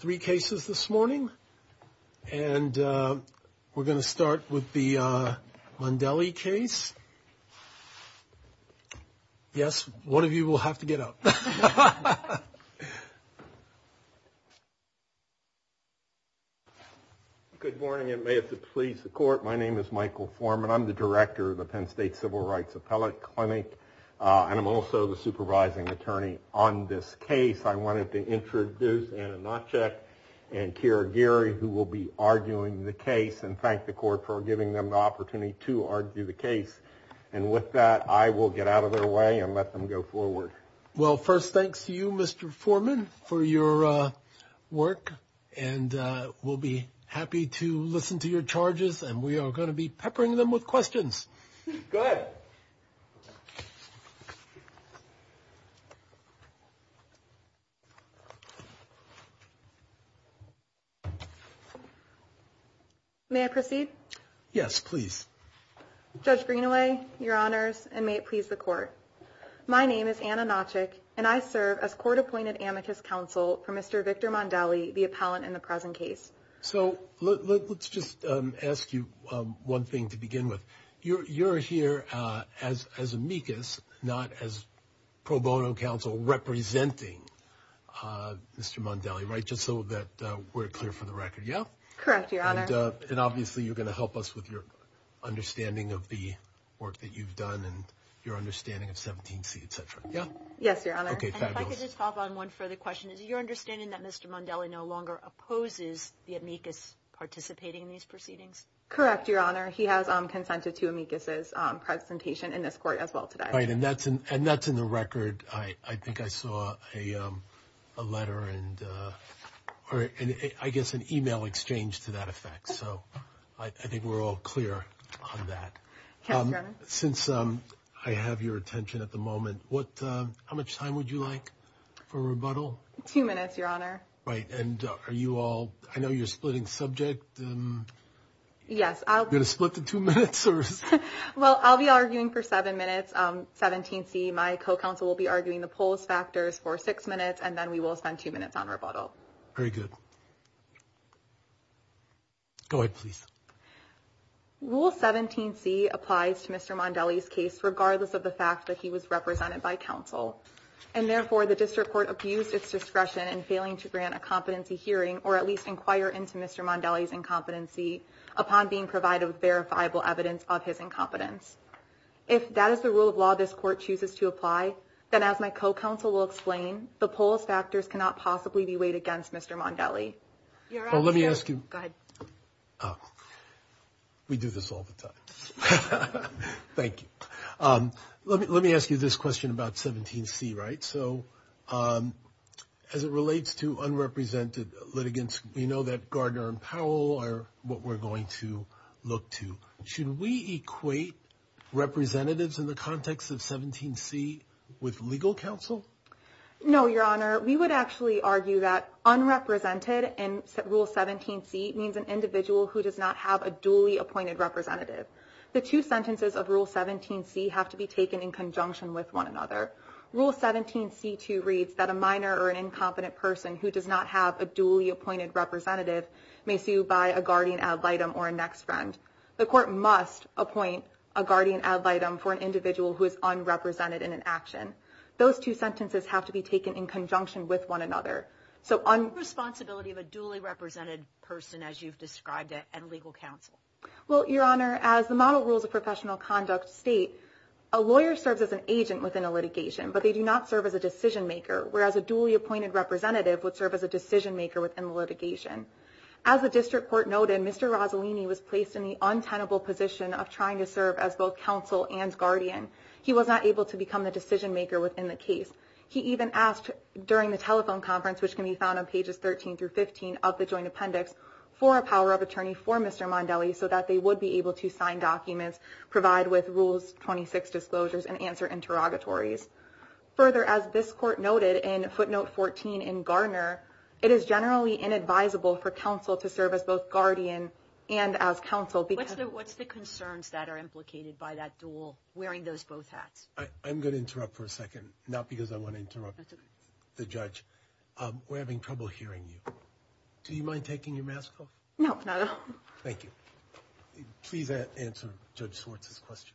Three cases this morning, and we're going to start with the Mondelli case Yes, one of you will have to get up Good morning. It may have to please the court. My name is Michael Foreman I'm the director of the Penn State Civil Rights Appellate Clinic, and I'm also the supervising attorney on this case I wanted to introduce Anna Natchek and Kira Geary who will be arguing the case and thank the court for giving them the opportunity To argue the case and with that I will get out of their way and let them go forward Well first, thanks to you. Mr. Foreman for your work and We'll be happy to listen to your charges and we are going to be peppering them with questions You May I proceed yes, please Judge Greenaway your honors and may it please the court My name is Anna Natchek, and I serve as court-appointed amicus counsel for mr. Victor Mondelli the appellant in the present case So let's just ask you one thing to begin with you're here as as amicus not as pro bono counsel Representing Mr. Mondelli right just so that we're clear for the record. Yeah, correct your honor and obviously you're gonna help us with your Understanding of the work that you've done and your understanding of 17c, etc. Yeah. Yes, your honor Okay, just hop on one further question is your understanding that mr. Mondelli no longer opposes the amicus Participating in these proceedings correct your honor. He has on consented to amicus's Presentation in this court as well today, right and that's and that's in the record. I I think I saw a letter and All right, and I guess an email exchange to that effect. So I think we're all clear on that Since um, I have your attention at the moment. What how much time would you like for a rebuttal two minutes? Your honor right and are you all I know you're splitting subject Yes, I'm gonna split the two minutes Well, I'll be arguing for seven minutes 17c my co-counsel will be arguing the polls factors for six minutes and then we will spend two minutes on rebuttal. Very good Go ahead, please Rule 17c applies to mr. Mondelli's case regardless of the fact that he was represented by counsel and Therefore the district court abused its discretion and failing to grant a competency hearing or at least inquire into mr. Mondelli's incompetency upon being provided with verifiable evidence of his incompetence If that is the rule of law, this court chooses to apply then as my co-counsel will explain the polls factors Cannot possibly be weighed against mr. Mondelli Let me ask you We do this all the time Thank you. Um, let me let me ask you this question about 17c, right? So As it relates to Unrepresented litigants, you know that Gardner and Powell are what we're going to look to should we equate? Representatives in the context of 17c with legal counsel No, your honor. We would actually argue that Unrepresented and rule 17c means an individual who does not have a duly appointed representative The two sentences of rule 17c have to be taken in conjunction with one another Rule 17c to reads that a minor or an incompetent person who does not have a duly appointed Representative may sue by a guardian ad litem or a next friend The court must appoint a guardian ad litem for an individual who is unrepresented in an action Those two sentences have to be taken in conjunction with one another so on Responsibility of a duly represented person as you've described it and legal counsel Well, your honor as the model rules of professional conduct state a lawyer serves as an agent within a litigation But they do not serve as a decision maker Whereas a duly appointed representative would serve as a decision maker within the litigation as the district court noted. Mr Rosalini was placed in the untenable position of trying to serve as both counsel and guardian He was not able to become the decision maker within the case He even asked during the telephone conference, which can be found on pages 13 through 15 of the joint appendix for a power of attorney For mr. Mondelli so that they would be able to sign documents provide with rules 26 disclosures and answer interrogatories Further as this court noted in footnote 14 in Garner It is generally inadvisable for counsel to serve as both guardian and as counsel But what's the concerns that are implicated by that dual wearing those both hats? I'm gonna interrupt for a second not because I want to interrupt the judge We're having trouble hearing you. Do you mind taking your mask off? No Thank you Please answer judge Swartz's question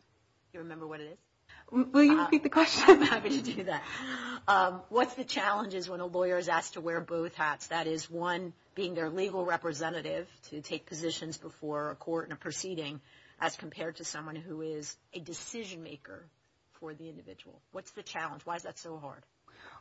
What's the challenge is when a lawyer is asked to wear both hats that is one being their legal Representative to take positions before a court and a proceeding as compared to someone who is a decision maker For the individual what's the challenge? Why is that so hard?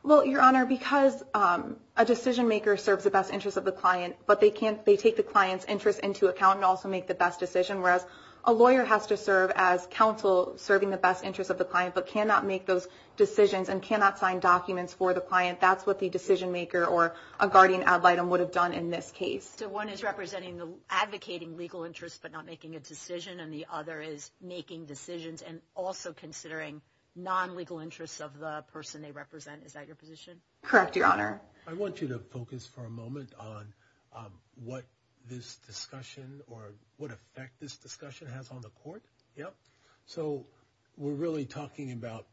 Well your honor because a decision maker serves the best interest of the client But they can't they take the client's interest into account and also make the best decision Whereas a lawyer has to serve as counsel serving the best interest of the client but cannot make those Decisions and cannot sign documents for the client That's what the decision maker or a guardian ad litem would have done in this case So one is representing the advocating legal interests But not making a decision and the other is making decisions and also considering non legal interests of the person They represent. Is that your position? Correct? Your honor. I want you to focus for a moment on What this discussion or what effect this discussion has on the court? Yep, so we're really talking about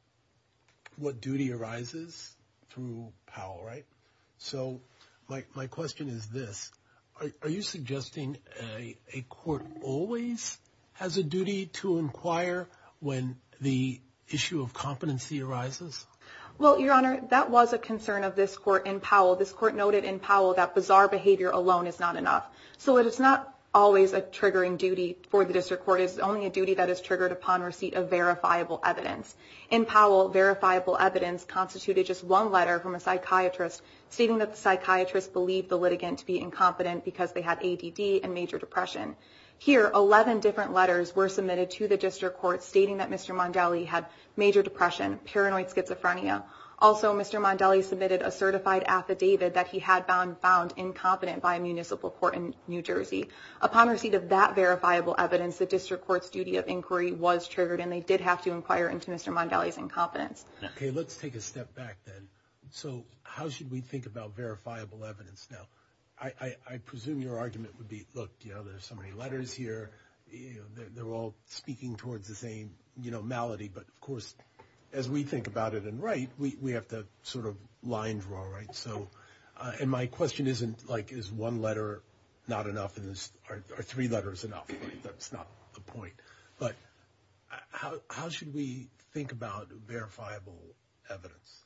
What duty arises through Powell, right? So like my question is this are you suggesting a a court always? Has a duty to inquire when the issue of competency arises Well, your honor that was a concern of this court in Powell this court noted in Powell that bizarre behavior alone is not enough So it's not always a triggering duty for the district court is only a duty that is triggered upon receipt of verifiable evidence in Powell verifiable evidence constituted just one letter from a psychiatrist stating that the Psychiatrist believed the litigant to be incompetent because they had ADD and major depression Here 11 different letters were submitted to the district court stating that mr. Mondelli had major depression paranoid schizophrenia Also, mr. Mondelli submitted a certified affidavit that he had found found incompetent by a municipal court in New Jersey Upon receipt of that verifiable evidence the district courts duty of inquiry was triggered and they did have to inquire into mr Mondelli's incompetence. Okay, let's take a step back then. So how should we think about verifiable evidence now? I I presume your argument would be look, you know, there's so many letters here They're all speaking towards the same, you know malady But of course as we think about it and right we have to sort of line draw, right? So and my question isn't like is one letter not enough in this are three letters enough. That's not the point but How should we think about verifiable evidence?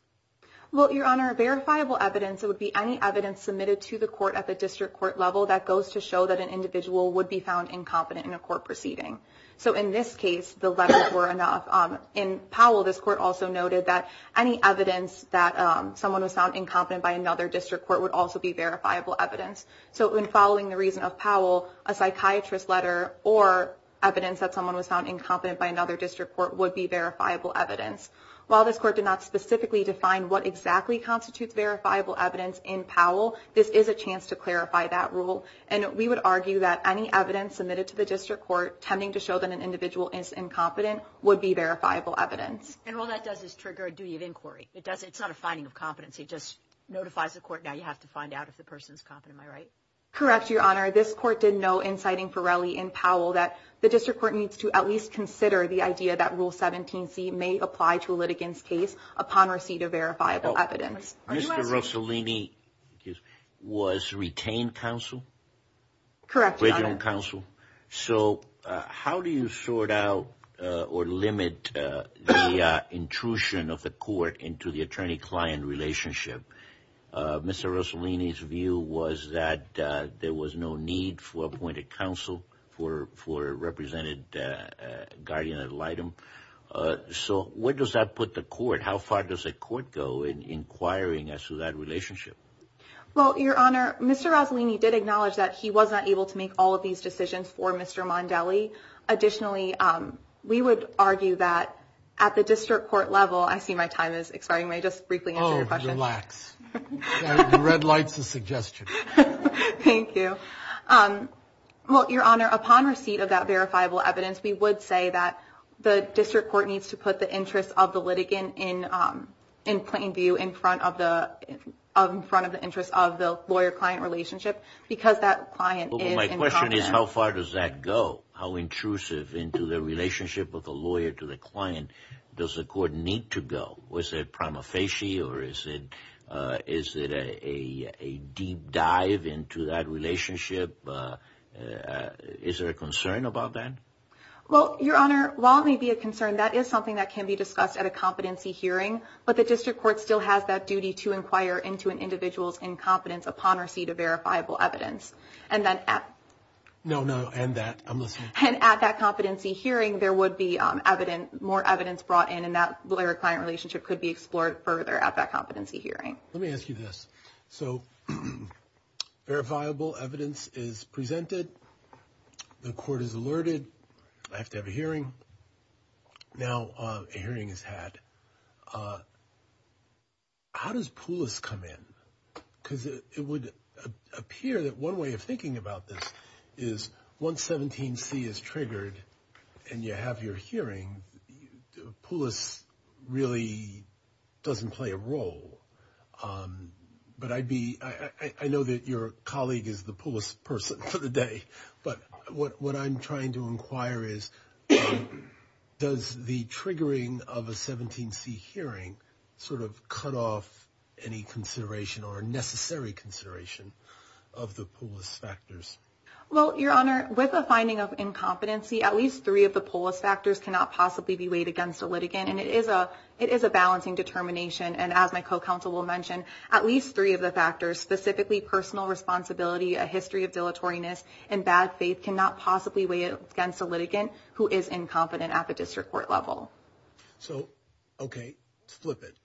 Well your honor a verifiable evidence It would be any evidence submitted to the court at the district court level that goes to show that an individual would be found Incompetent in a court proceeding. So in this case the letters were enough in Powell This court also noted that any evidence that someone was found incompetent by another district court would also be verifiable evidence so in following the reason of Powell a psychiatrist letter or Evidence that someone was found incompetent by another district court would be verifiable evidence While this court did not specifically define what exactly constitutes verifiable evidence in Powell This is a chance to clarify that rule and we would argue that any evidence submitted to the district court Tending to show that an individual is incompetent would be verifiable evidence And all that does is trigger a duty of inquiry. It doesn't it's not a finding of competency Just notifies the court now you have to find out if the person's competent Am I right? Correct Your honor this court didn't know inciting Pirelli in Powell that the district court needs to at least consider the idea that rule 17c may apply to a litigants case upon receipt of verifiable evidence Mr. Rossellini Was retained counsel Correct regional counsel. So how do you sort out or limit? Intrusion of the court into the attorney-client relationship Mr. Rossellini's view was that there was no need for appointed counsel for for represented guardian ad litem So, where does that put the court how far does the court go in inquiring as to that relationship? Well, your honor. Mr. Rossellini did acknowledge that he was not able to make all of these decisions for mr. Mondelli Additionally, we would argue that at the district court level. I see my time is expiring. May I just briefly relax Red lights a suggestion Thank you Well, your honor upon receipt of that verifiable evidence we would say that the district court needs to put the interest of the litigant in in plain view in front of the front of the interest of the lawyer client relationship because that client my question is how far does that go how Intrusive into the relationship with a lawyer to the client. Does the court need to go? Was it prima facie or is it is it a a deep dive into that relationship? Is there a concern about that? Well, your honor while it may be a concern that is something that can be discussed at a competency hearing But the district court still has that duty to inquire into an individual's incompetence upon receipt of verifiable evidence and then at No, no, and that I'm listening and at that competency hearing there would be evident more evidence brought in and that lawyer-client Relationship could be explored further at that competency hearing. Let me ask you this so Verifiable evidence is presented The court is alerted. I have to have a hearing Now a hearing is had How does Poulos come in because it would Appear that one way of thinking about this is Once 17 C is triggered and you have your hearing Poulos really Doesn't play a role But I'd be I know that your colleague is the Poulos person for the day, but what what I'm trying to inquire is Does the triggering of a 17 C hearing sort of cut off any? consideration or necessary consideration of the Poulos factors Well your honor with a finding of incompetency at least three of the Poulos factors cannot possibly be weighed against a litigant And it is a it is a balancing determination and as my co-counsel will mention at least three of the factors specifically personal responsibility a history of dilatory nests and bad faith cannot possibly weigh it against a litigant who is Incompetent at the district court level so okay flip it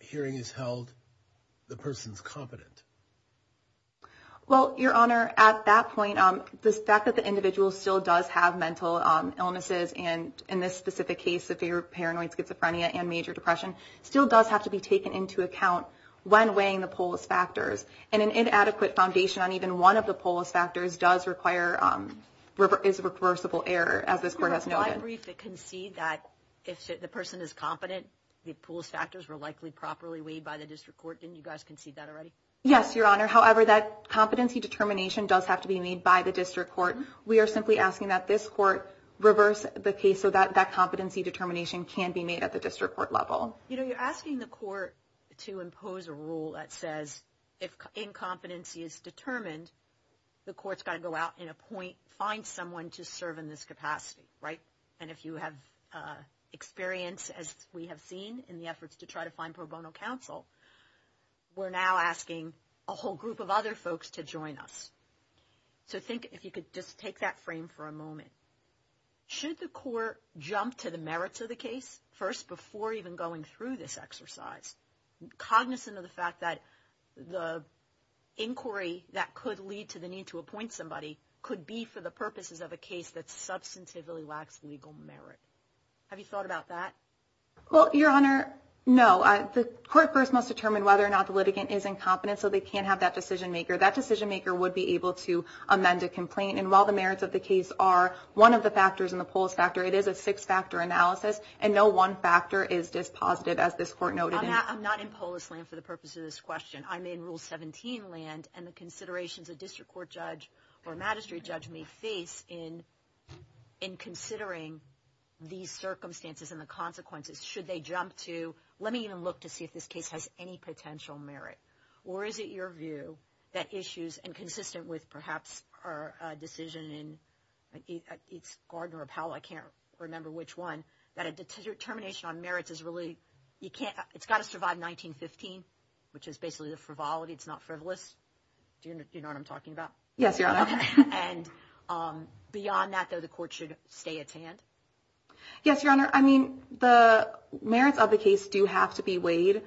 Hearing is held the person's competent Well your honor at that point on the fact that the individual still does have mental Illnesses and in this specific case if they were paranoid schizophrenia and major depression still does have to be taken into account When weighing the Poulos factors and an inadequate foundation on even one of the Poulos factors does require Is a reversible error as this court has no brief that can see that if the person is competent? The Poulos factors were likely properly weighed by the district court didn't you guys can see that already? Yes, your honor however that competency determination does have to be made by the district court We are simply asking that this court reverse the case so that that competency determination can be made at the district court level You know you're asking the court to impose a rule that says if Incompetency is determined the courts got to go out in a point find someone to serve in this capacity right and if you have Experience as we have seen in the efforts to try to find pro bono counsel We're now asking a whole group of other folks to join us So think if you could just take that frame for a moment Should the court jump to the merits of the case first before even going through this exercise? cognizant of the fact that the Inquiry that could lead to the need to appoint somebody could be for the purposes of a case that's substantively lacks legal merit Have you thought about that? Well your honor No, I the court first must determine whether or not the litigant is incompetent So they can't have that decision maker that decision maker would be able to Amend a complaint and while the merits of the case are one of the factors in the polls factor It is a six-factor analysis and no one factor is dispositive as this court noted I'm not in polis land for the purpose of this question I'm in rule 17 land and the considerations a district court judge or a magistrate judge may face in in considering These circumstances and the consequences should they jump to let me even look to see if this case has any potential merit Or is it your view that issues and consistent with perhaps our decision in? It's Gardner or Powell. I can't remember which one that a determination on merits is really you can't it's got to survive 1915 which is basically the frivolity. It's not frivolous Do you know what I'm talking about? Yes, your honor and Beyond that though the court should stay at hand Yes, your honor. I mean the Merits of the case do have to be weighed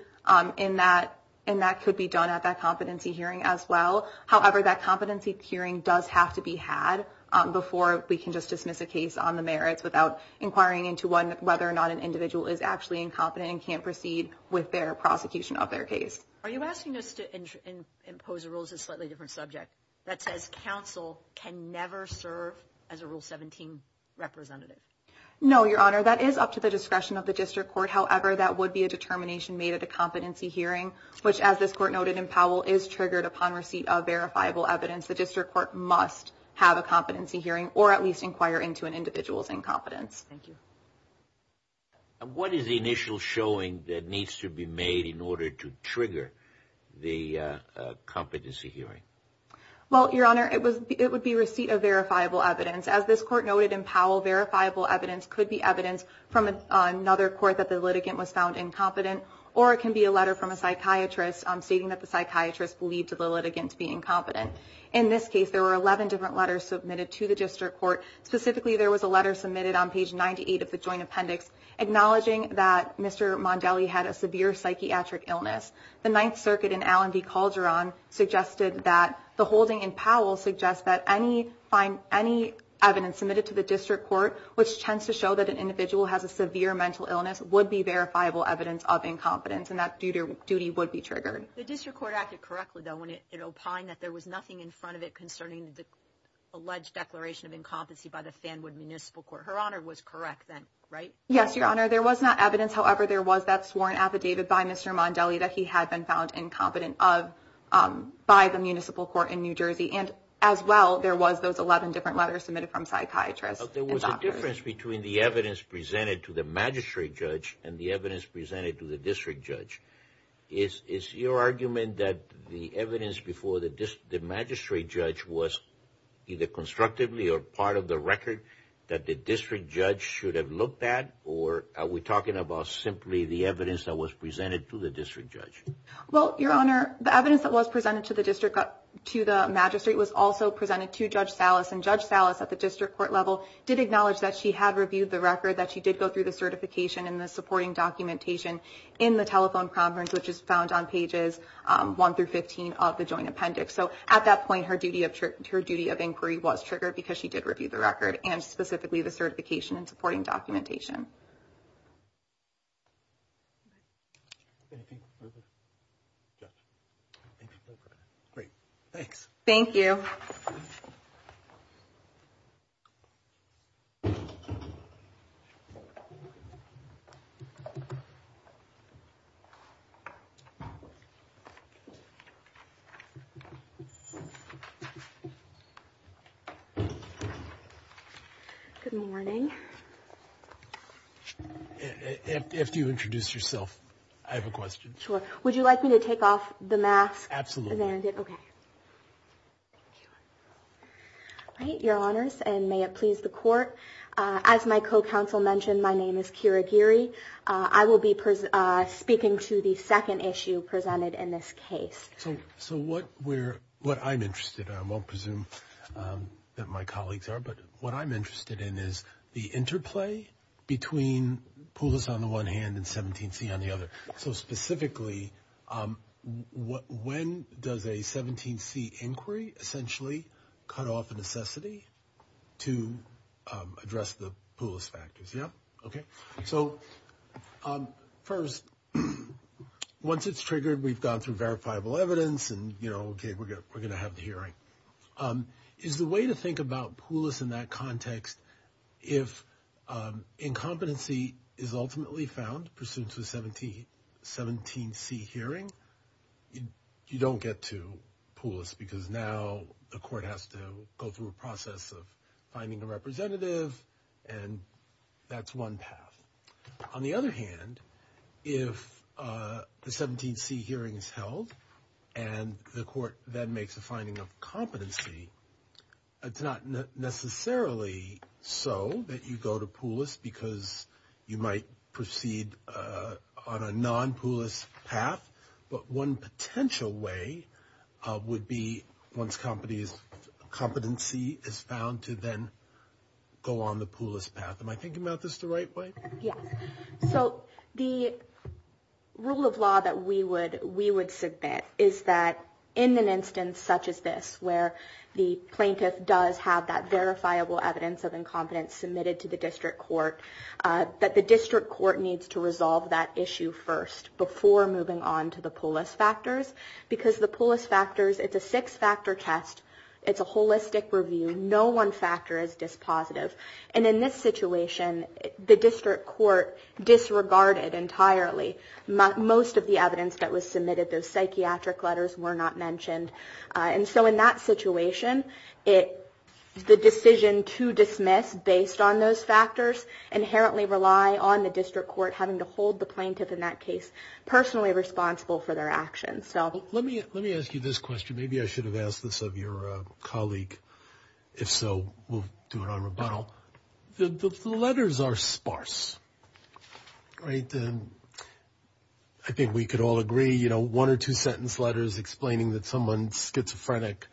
in that and that could be done at that competency hearing as well However, that competency hearing does have to be had Before we can just dismiss a case on the merits without Inquiring into one whether or not an individual is actually incompetent and can't proceed with their prosecution of their case Are you asking us to? Impose rules a slightly different subject that says counsel can never serve as a rule 17 Representative no, your honor. That is up to the discretion of the district court However, that would be a determination made at a competency hearing Which as this court noted in Powell is triggered upon receipt of verifiable evidence The district court must have a competency hearing or at least inquire into an individual's incompetence. Thank you What is the initial showing that needs to be made in order to trigger the competency hearing Well, your honor it was it would be receipt of verifiable evidence as this court noted in Powell verifiable evidence could be evidence from Another court that the litigant was found incompetent or it can be a letter from a psychiatrist I'm stating that the psychiatrist believed to the litigants being competent in this case There were 11 different letters submitted to the district court. Specifically. There was a letter submitted on page 98 of the joint appendix Acknowledging that mr. Mondelli had a severe psychiatric illness the Ninth Circuit in Allen v Calderon suggested that the holding in Powell suggests that any find any evidence submitted to the district court which tends to show that an individual has a severe mental illness would be Verifiable evidence of incompetence and that duty duty would be triggered the district court acted correctly though when it opined that there was nothing in front of it concerning the Alleged declaration of incompetency by the Fanwood Municipal Court. Her honor was correct then, right? Yes, your honor. There was not evidence However, there was that sworn affidavit by mr. Mondelli that he had been found incompetent of By the Municipal Court in New Jersey and as well there was those 11 different letters submitted from psychiatrists There was a difference between the evidence presented to the magistrate judge and the evidence presented to the district judge is is your argument that the evidence before the magistrate judge was Either constructively or part of the record that the district judge should have looked at or are we talking about Simply the evidence that was presented to the district judge Well, your honor the evidence that was presented to the district to the magistrate was also presented to judge Salas and judge Salas at the district court level did acknowledge that she had reviewed the record that she did go through the Certification and the supporting documentation in the telephone conference, which is found on pages 1 through 15 of the joint appendix So at that point her duty of trip to her duty of inquiry was triggered because she did review the record and specifically the certification and supporting documentation Thanks, thank you Good Morning If you introduce yourself, I have a question sure, would you like me to take off the mask? Absolutely. Okay Right your honors and may it please the court as my co-counsel mentioned, my name is Kira Geary. I will be Speaking to the second issue presented in this case. So so what we're what I'm interested. I won't presume that my colleagues are but what I'm interested in is the interplay between Pullis on the one hand and 17 C on the other so specifically What when does a 17 C inquiry essentially cut off a necessity to? Address the Poulos factors. Yeah, okay, so First Once it's triggered, we've gone through verifiable evidence and you know, okay, we're good. We're gonna have the hearing is the way to think about Poulos in that context if Incompetency is ultimately found pursuant to 17 17 C hearing you don't get to Poulos because now the court has to go through a process of finding a representative and That's one path on the other hand if The 17 C hearings held and the court then makes a finding of competency It's not necessarily So that you go to Poulos because you might proceed on a non Poulos path, but one potential way would be once companies competency is found to then Go on the Poulos path. Am I thinking about this the right way? Yeah, so the rule of law that we would we would submit is that in an instance such as this where the Plaintiff does have that verifiable evidence of incompetence submitted to the district court That the district court needs to resolve that issue first before moving on to the Poulos factors Because the Poulos factors it's a six-factor test. It's a holistic review No one factor is dispositive and in this situation the district court disregarded entirely Most of the evidence that was submitted those psychiatric letters were not mentioned. And so in that situation it The decision to dismiss based on those factors inherently rely on the district court having to hold the plaintiff in that case Personally responsible for their actions. So let me let me ask you this question. Maybe I should have asked this of your colleague If so, we'll do it on rebuttal The letters are sparse right, then I Think we could all agree, you know one or two sentence letters explaining that someone's schizophrenic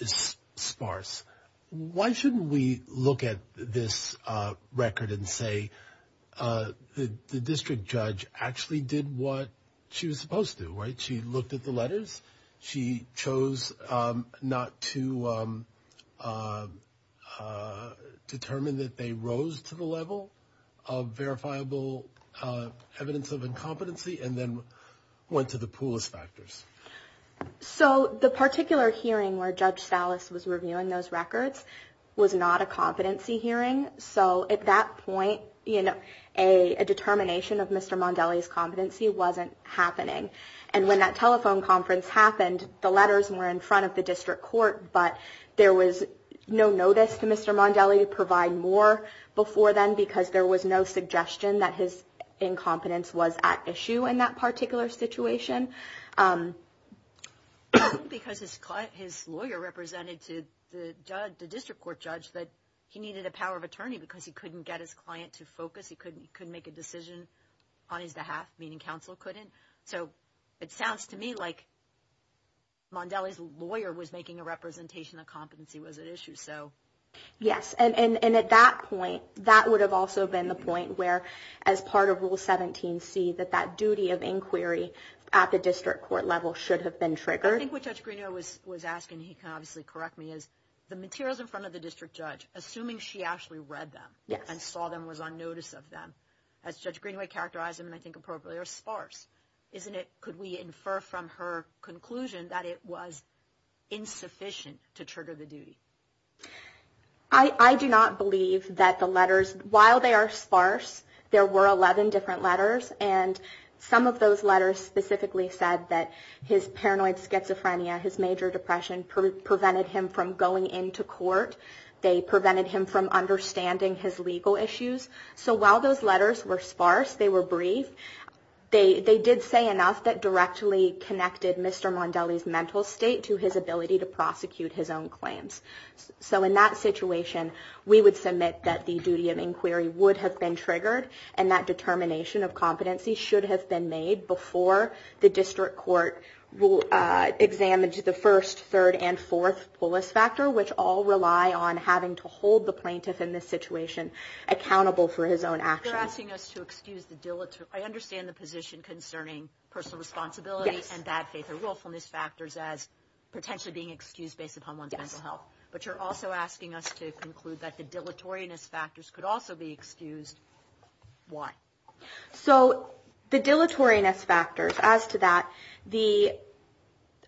Is sparse? Why shouldn't we look at this? record and say The district judge actually did what she was supposed to write. She looked at the letters. She chose not to Determine That they rose to the level of verifiable evidence of incompetency and then went to the Poulos factors So the particular hearing where judge Salas was reviewing those records was not a competency hearing So at that point, you know a a determination of mr Mondelli's competency wasn't happening and when that telephone conference happened the letters were in front of the district court But there was no notice to mr Mondelli to provide more before then because there was no suggestion that his Incompetence was at issue in that particular situation Because his client his lawyer Represented to the judge the district court judge that he needed a power of attorney because he couldn't get his client to focus he couldn't couldn't make a decision on his behalf meaning counsel couldn't so it sounds to me like Mondelli's lawyer was making a representation of competency was an issue. So Yes And and and at that point that would have also been the point where as part of rule 17 see that that duty of inquiry At the district court level should have been triggered I think what judge Greenaway was was asking he can obviously correct me is the materials in front of the district judge Assuming she actually read them Yes, and saw them was on notice of them as judge Greenaway characterized him and I think appropriately or sparse, isn't it? Could we infer from her conclusion that it was? Insufficient to trigger the duty. I I do not believe that the letters while they are sparse there were 11 different letters and Some of those letters specifically said that his paranoid schizophrenia his major depression Prevented him from going into court. They prevented him from understanding his legal issues So while those letters were sparse, they were brief They they did say enough that directly connected mr. Mondelli's mental state to his ability to prosecute his own claims So in that situation We would submit that the duty of inquiry would have been triggered and that determination of competency should have been made before the district court will Examine the first third and fourth polis factor which all rely on having to hold the plaintiff in this situation Accountable for his own action asking us to excuse the dilatory I understand the position concerning personal responsibility and bad faith or willfulness factors as Potentially being excused based upon one's mental health, but you're also asking us to conclude that the dilatory ness factors could also be excused why so the dilatory ness factors as to that the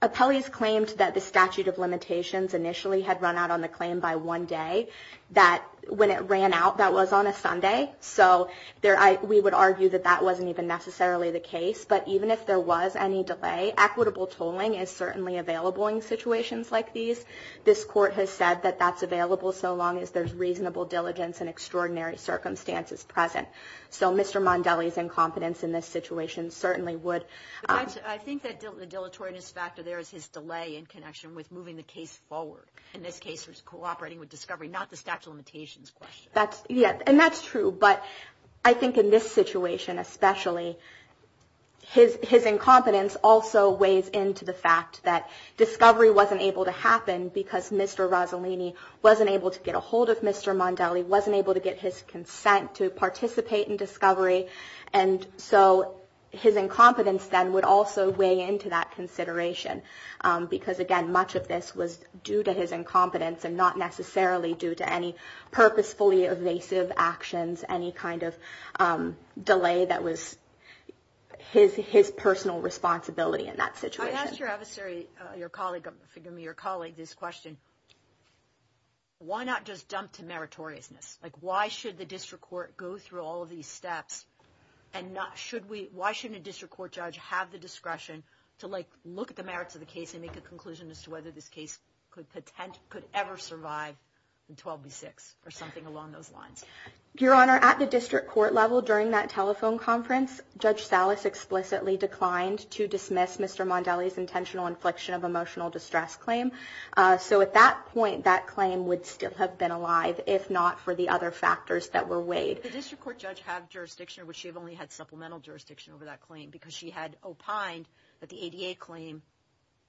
Appellees claimed that the statute of limitations initially had run out on the claim by one day that when it ran out That was on a Sunday. So there I we would argue that that wasn't even necessarily the case But even if there was any delay equitable tolling is certainly available in situations like these This court has said that that's available. So long as there's reasonable diligence and extraordinary circumstances present So, mr Mondelli's incompetence in this situation certainly would I think that the dilatory ness factor There is his delay in connection with moving the case forward in this case was cooperating with discovery not the statute of limitations That's yeah, and that's true. But I think in this situation, especially His his incompetence also weighs into the fact that discovery wasn't able to happen because mr Rossellini wasn't able to get a hold of mr. Mondelli wasn't able to get his consent to participate in discovery and so his incompetence then would also weigh into that consideration because Again, much of this was due to his incompetence and not necessarily due to any purposefully evasive actions any kind of delay, that was His his personal responsibility in that situation Your colleague forgive me your colleague this question Why not just dump to meritoriousness like why should the district court go through all of these steps and not should we? Why shouldn't a district court judge have the discretion to like look at the merits of the case and make a conclusion as to whether this Case could potent could ever survive in 12 b6 or something along those lines Your honor at the district court level during that telephone conference judge Salas explicitly declined to dismiss. Mr Mondelli's intentional infliction of emotional distress claim So at that point that claim would still have been alive if not for the other factors that were weighed The district court judge have jurisdiction which she've only had supplemental jurisdiction over that claim because she had opined that the ADA claim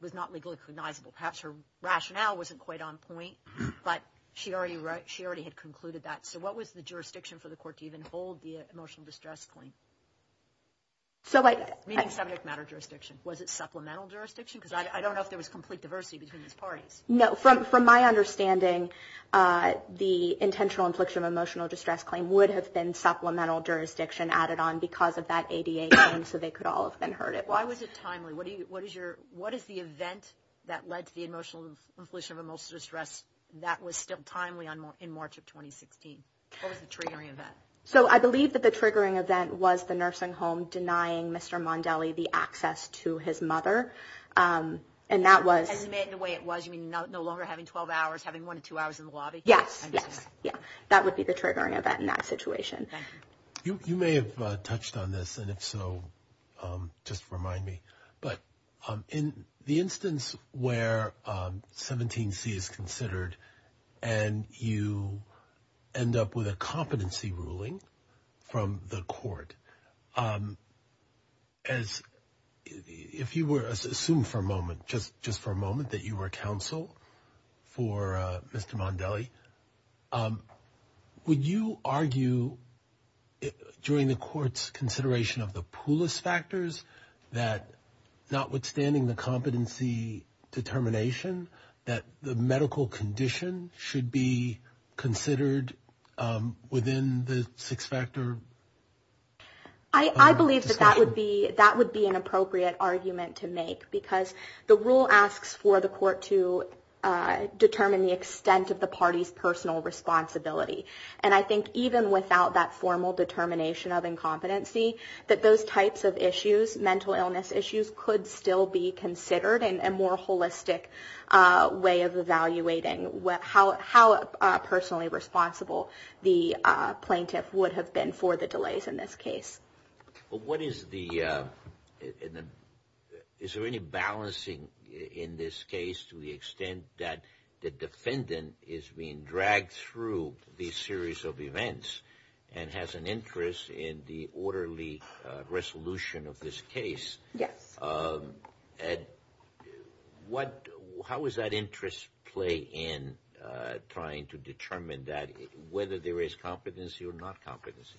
Was not legally cognizable perhaps her rationale wasn't quite on point, but she already wrote she already had concluded that So what was the jurisdiction for the court to even hold the emotional distress claim? So like Was it supplemental jurisdiction because I don't know if there was complete diversity between these parties no from from my understanding The intentional infliction of emotional distress claim would have been supplemental jurisdiction added on because of that ADA So they could all have been heard it. Why was it timely? What do you what is your what is the event? That led to the emotional infliction of emotional distress. That was still timely on more in March of 2016 So, I believe that the triggering event was the nursing home denying mr. Mondelli the access to his mother And that was the way it was. You mean no longer having 12 hours having one or two hours in the lobby. Yes Yeah, that would be the triggering event in that situation You may have touched on this and if so just remind me but in the instance where 17 C is considered and you End up with a competency ruling from the court as If you were assumed for a moment just just for a moment that you were counsel for mr. Mondelli Would you argue During the courts consideration of the poolist factors that notwithstanding the competency determination that the medical condition should be considered within the six-factor I Believe that that would be that would be an appropriate argument to make because the rule asks for the court to Determine the extent of the party's personal responsibility and I think even without that formal determination of Incompetency that those types of issues mental illness issues could still be considered and a more holistic way of evaluating what how how personally responsible the Plaintiff would have been for the delays in this case what is the Is there any balancing in this case to the extent that the defendant is being dragged through? These series of events and has an interest in the orderly Resolution of this case. Yes and What how is that interest play in? Trying to determine that whether there is competency or not competency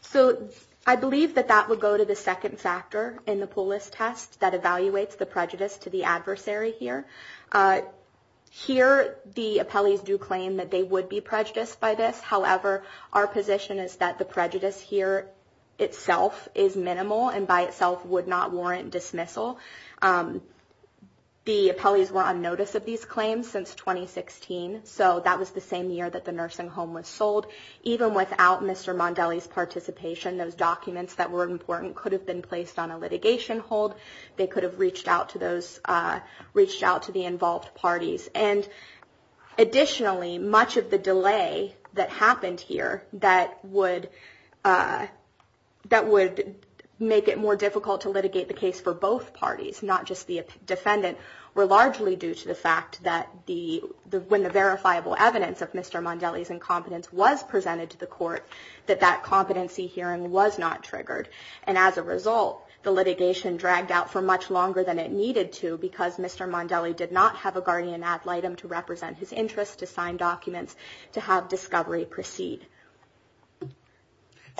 So I believe that that would go to the second factor in the poolist test that evaluates the prejudice to the adversary here Here the appellees do claim that they would be prejudiced by this However, our position is that the prejudice here itself is minimal and by itself would not warrant dismissal The appellees were on notice of these claims since 2016 So that was the same year that the nursing home was sold even without mr Mondelli's participation those documents that were important could have been placed on a litigation hold they could have reached out to those reached out to the involved parties and Additionally much of the delay that happened here that would That would make it more difficult to litigate the case for both parties not just the defendant We're largely due to the fact that the the when the verifiable evidence of mr Mondelli's incompetence was presented to the court that that competency hearing was not triggered and as a result the litigation Dragged out for much longer than it needed to because mr Mondelli did not have a guardian ad litem to represent his interest to sign documents to have discovery proceed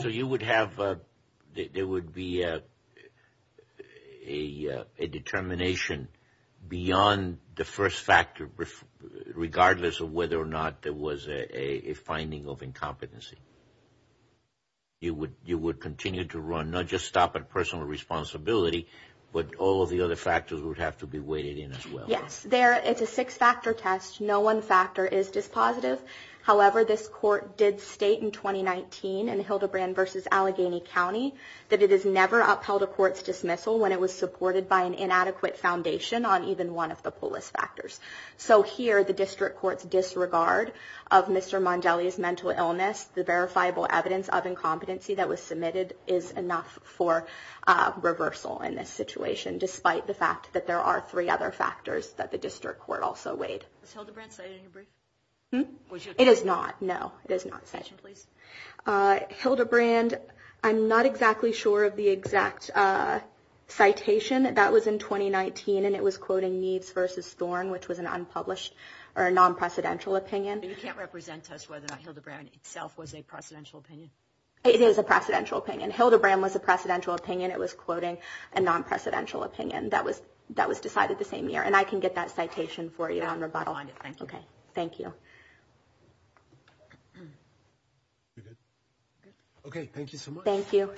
so you would have there would be a Determination beyond the first factor regardless of whether or not there was a finding of incompetency You would you would continue to run not just stop at personal responsibility But all of the other factors would have to be weighted in as well. Yes there. It's a six-factor test No one factor is dispositive However, this court did state in 2019 and Hildebrand versus Allegheny County that it is never upheld a court's dismissal when it was supported by an inadequate foundation on even one of the polis factors So here the district courts disregard of mr. Mondelli's mental illness the verifiable evidence of incompetency that was submitted is enough for Reversal in this situation despite the fact that there are three other factors that the district court also weighed Hmm it is not no it is not such a place Hildebrand, I'm not exactly sure of the exact Citation that was in 2019 and it was quoting needs versus Thorne, which was an unpublished or a non-precedential opinion You can't represent us whether not Hildebrand itself was a precedential opinion It is a precedential opinion Hildebrand was a precedential opinion It was quoting a non-precedential opinion that was that was decided the same year and I can get that citation for you on rebuttal Okay. Thank you Okay, thank you, thank you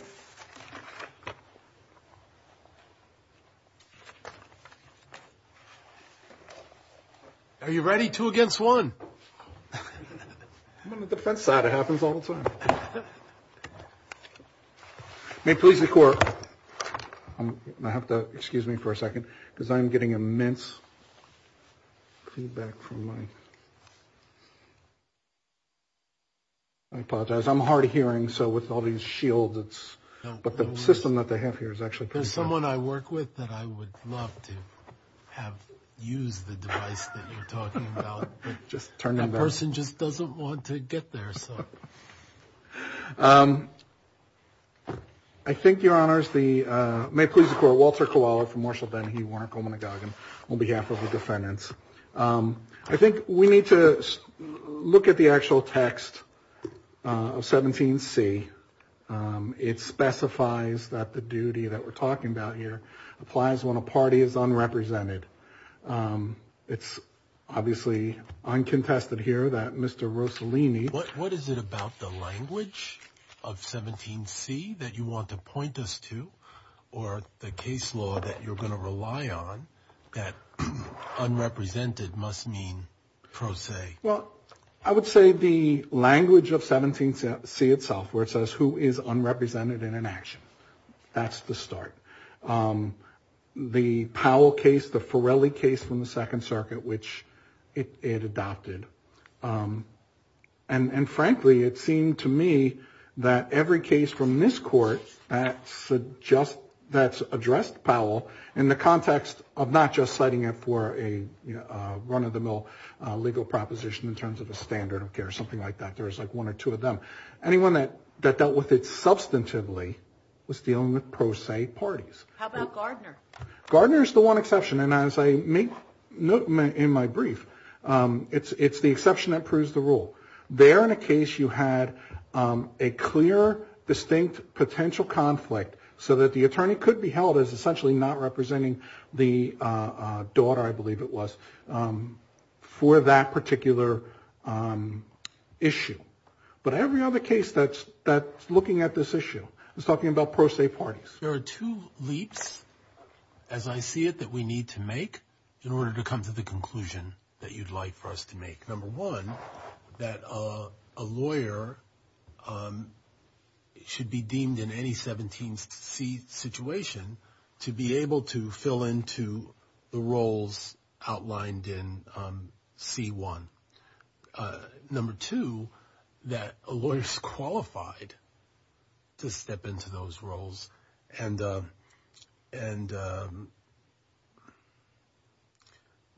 Are you ready two against one May please the court I have to excuse me for a second because I'm getting immense I Apologize, I'm hard of hearing so with all these shields, it's but the system that they have here is actually there's someone I work with Just turn in person just doesn't want to get there so I Think your honors the may please the court Walter koala from Marshall Ben. He weren't going to go again on behalf of the defendants I think we need to Look at the actual text of 17 C It specifies that the duty that we're talking about here applies when a party is unrepresented It's obviously Uncontested here that mr. Rossellini. What what is it about the language of? 17 C that you want to point us to or the case law that you're going to rely on that Unrepresented must mean Proce. Well, I would say the language of 17 C itself where it says who is unrepresented in an action That's the start The Powell case the Forelli case from the Second Circuit, which it adopted and frankly, it seemed to me that every case from this court that Suggest that's addressed Powell in the context of not just citing it for a Run-of-the-mill Legal proposition in terms of a standard of care or something like that There's like one or two of them anyone that that dealt with it substantively was dealing with pro se parties Gardner's the one exception and as I make note in my brief It's it's the exception that proves the rule there in a case. You had a clear distinct potential conflict So that the attorney could be held as essentially not representing the Daughter, I believe it was for that particular Issue but every other case that's that's looking at this issue. I was talking about pro se parties. There are two leaps as I see it that we need to make in order to come to the conclusion that you'd like for us to make number one that a lawyer Should Be deemed in any 17 seat situation to be able to fill into the roles outlined in C1 Number two that a lawyer is qualified to step into those roles and and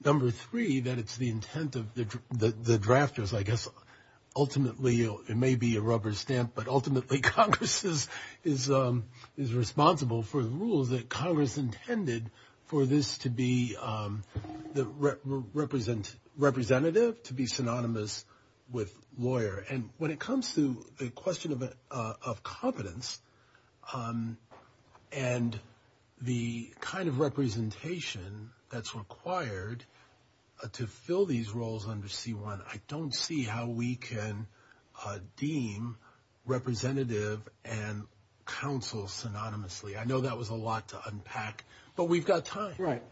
Number Three that it's the intent of the the drafters, I guess ultimately, you know, it may be a rubber stamp, but ultimately Congress's is Is responsible for the rules that Congress intended for this to be? the Represent representative to be synonymous with lawyer and when it comes to the question of it of competence and The kind of representation that's required To fill these roles under c1. I don't see how we can deem representative and Counsel synonymously. I know that was a lot to unpack but we've got time right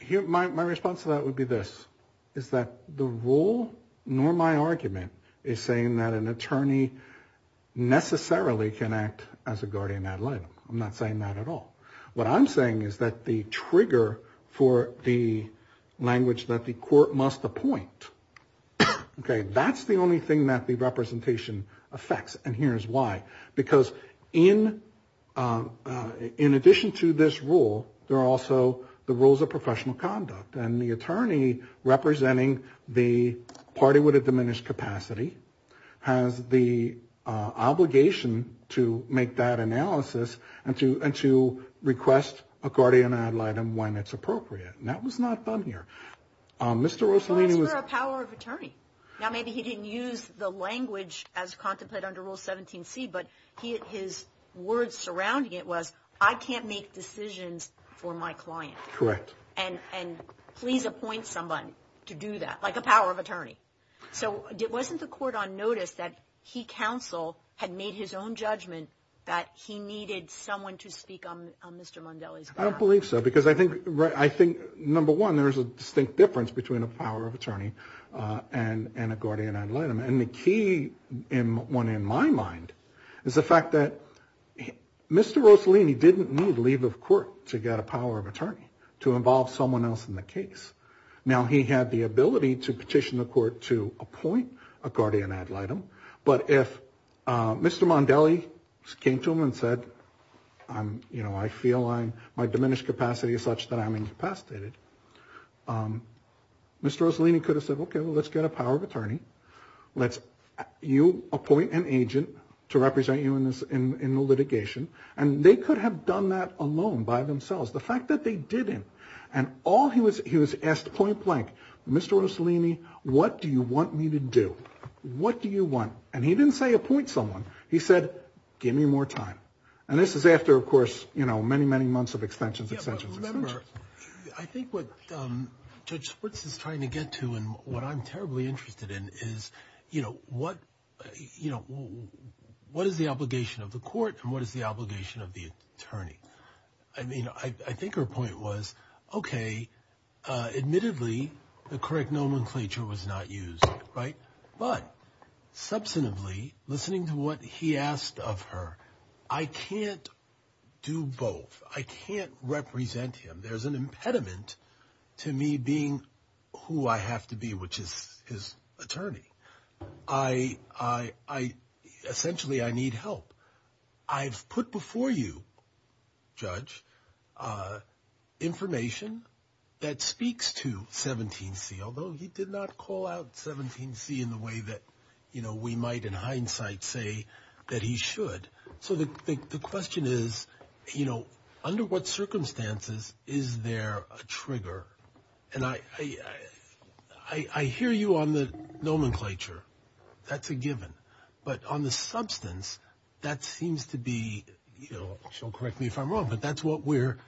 here My response to that would be this is that the rule nor my argument is saying that an attorney Necessarily can act as a guardian ad litem. I'm not saying that at all. What I'm saying is that the trigger for the language that the court must appoint Okay, that's the only thing that the representation affects and here's why because in In addition to this rule, there are also the rules of professional conduct and the attorney representing the party would have diminished capacity has the Obligation to make that analysis and to and to request a guardian ad litem when it's appropriate That was not done here Mr. Rosalene was a power of attorney now Maybe he didn't use the language as contemplate under rule 17 C But he his words surrounding it was I can't make decisions for my client correct And and please appoint someone to do that like a power of attorney So it wasn't the court on notice that he counsel had made his own judgment that he needed someone to speak on I don't believe so because I think right I think number one. There's a distinct difference between a power of attorney And and a guardian ad litem and the key in one in my mind is the fact that Mr. Rosalene he didn't need leave of court to get a power of attorney to involve someone else in the case Now he had the ability to petition the court to appoint a guardian ad litem, but if Mr. Mondelli came to him and said, um, you know, I feel I'm my diminished capacity is such that I'm incapacitated Mr. Rosalene he could have said, okay. Well, let's get a power of attorney Let's you appoint an agent to represent you in this in the litigation and they could have done that alone by themselves The fact that they didn't and all he was he was asked point-blank. Mr. Rosalene II. What do you want me to do? What do you want and he didn't say appoint someone he said give me more time and this is after of course You know many many months of extensions extensions Is you know what You know What is the obligation of the court and what is the obligation of the attorney? I mean, I think her point was okay admittedly, the correct nomenclature was not used right but Substantively listening to what he asked of her. I can't Do both I can't represent him. There's an impediment to me being who I have to be which is his attorney I I Essentially, I need help. I've put before you judge Information that speaks to 17 C Although he did not call out 17 C in the way that you know We might in hindsight say that he should so the question is, you know under what? Circumstances, is there a trigger and I I I hear you on the nomenclature That's a given but on the substance that seems to be you know Correct me if I'm wrong, but that's what we're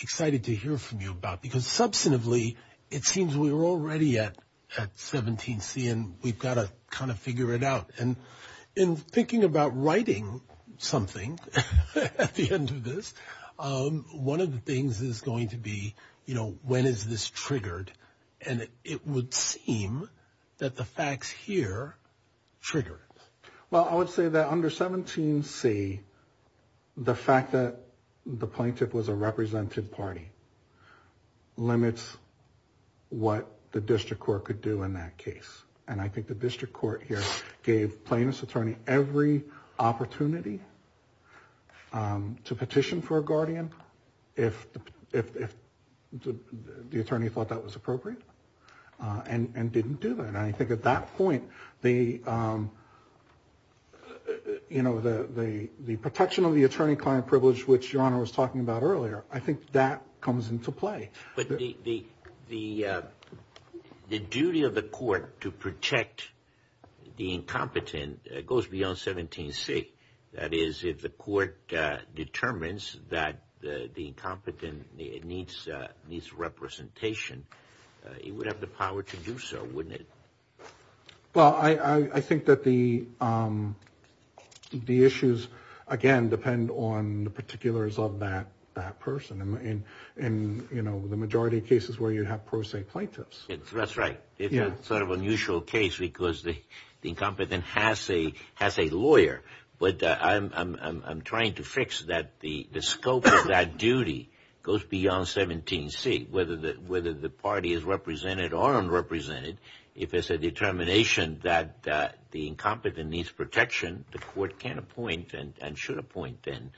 excited to hear from you about because substantively it seems we were already at at 17 C and we've got to kind of figure it out and in thinking about writing something One of the things is going to be you know, when is this triggered and it would seem that the facts here Trigger it. Well, I would say that under 17 C The fact that the plaintiff was a representative party limits What the district court could do in that case and I think the district court here gave plaintiff's attorney every opportunity To petition for a guardian if if The attorney thought that was appropriate and and didn't do that. I think at that point the You Know the the the protection of the attorney-client privilege which your honor was talking about earlier I think that comes into play, but the the the duty of the court to protect The incompetent goes beyond 17 C. That is if the court Determines that the the incompetent it needs needs representation He would have the power to do so, wouldn't it? Well, I I think that the The issues again depend on the particulars of that that person and and you know The majority of cases where you have pro se plaintiffs. That's right Yeah, sort of unusual case because the incompetent has a has a lawyer But I'm I'm trying to fix that the the scope of that duty goes beyond 17 Whether that whether the party is represented or unrepresented if it's a determination that the incompetent needs protection the court can't appoint and should appoint then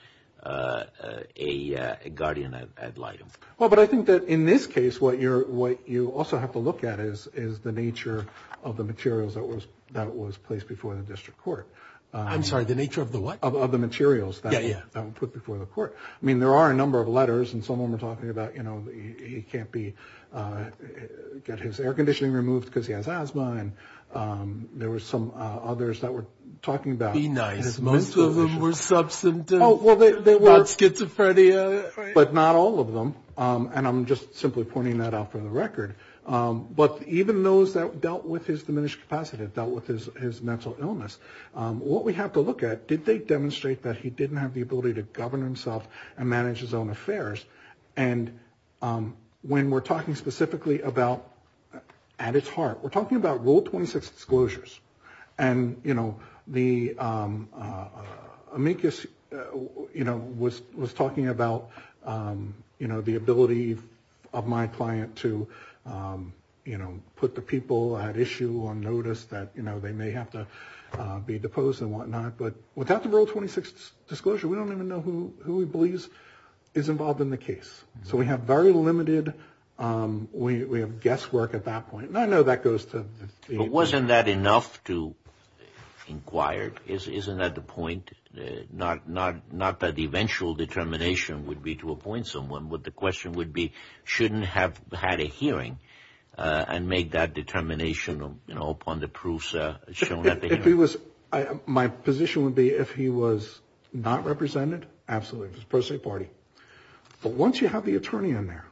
a Guardian, I'd like him well But I think that in this case what you're what you also have to look at is is the nature of the materials that was That was placed before the district court. I'm sorry the nature of the what of the materials. Yeah Yeah put before the court I mean there are a number of letters and someone we're talking about, you know, he can't be Get his air conditioning removed because he has asthma and there were some others that we're talking about. He's nice Most of them were sub symptom. Oh, well, they were schizophrenia But not all of them and I'm just simply pointing that out for the record But even those that dealt with his diminished capacity that with his mental illness What we have to look at did they demonstrate that he didn't have the ability to govern himself and manage his own affairs and When we're talking specifically about at its heart we're talking about rule 26 disclosures and you know the Amicus, you know was was talking about you know the ability of my client to you know put the people at issue or notice that you know, they may have to Be deposed and whatnot, but without the rule 26 disclosure, we don't even know who who he believes is involved in the case So we have very limited we have guesswork at that point and I know that goes to it wasn't that enough to Inquire is isn't at the point Not not not that the eventual determination would be to appoint someone what the question would be shouldn't have had a hearing And make that determination, you know upon the proofs if he was My position would be if he was not represented. Absolutely. It was personally party But once you have the attorney in there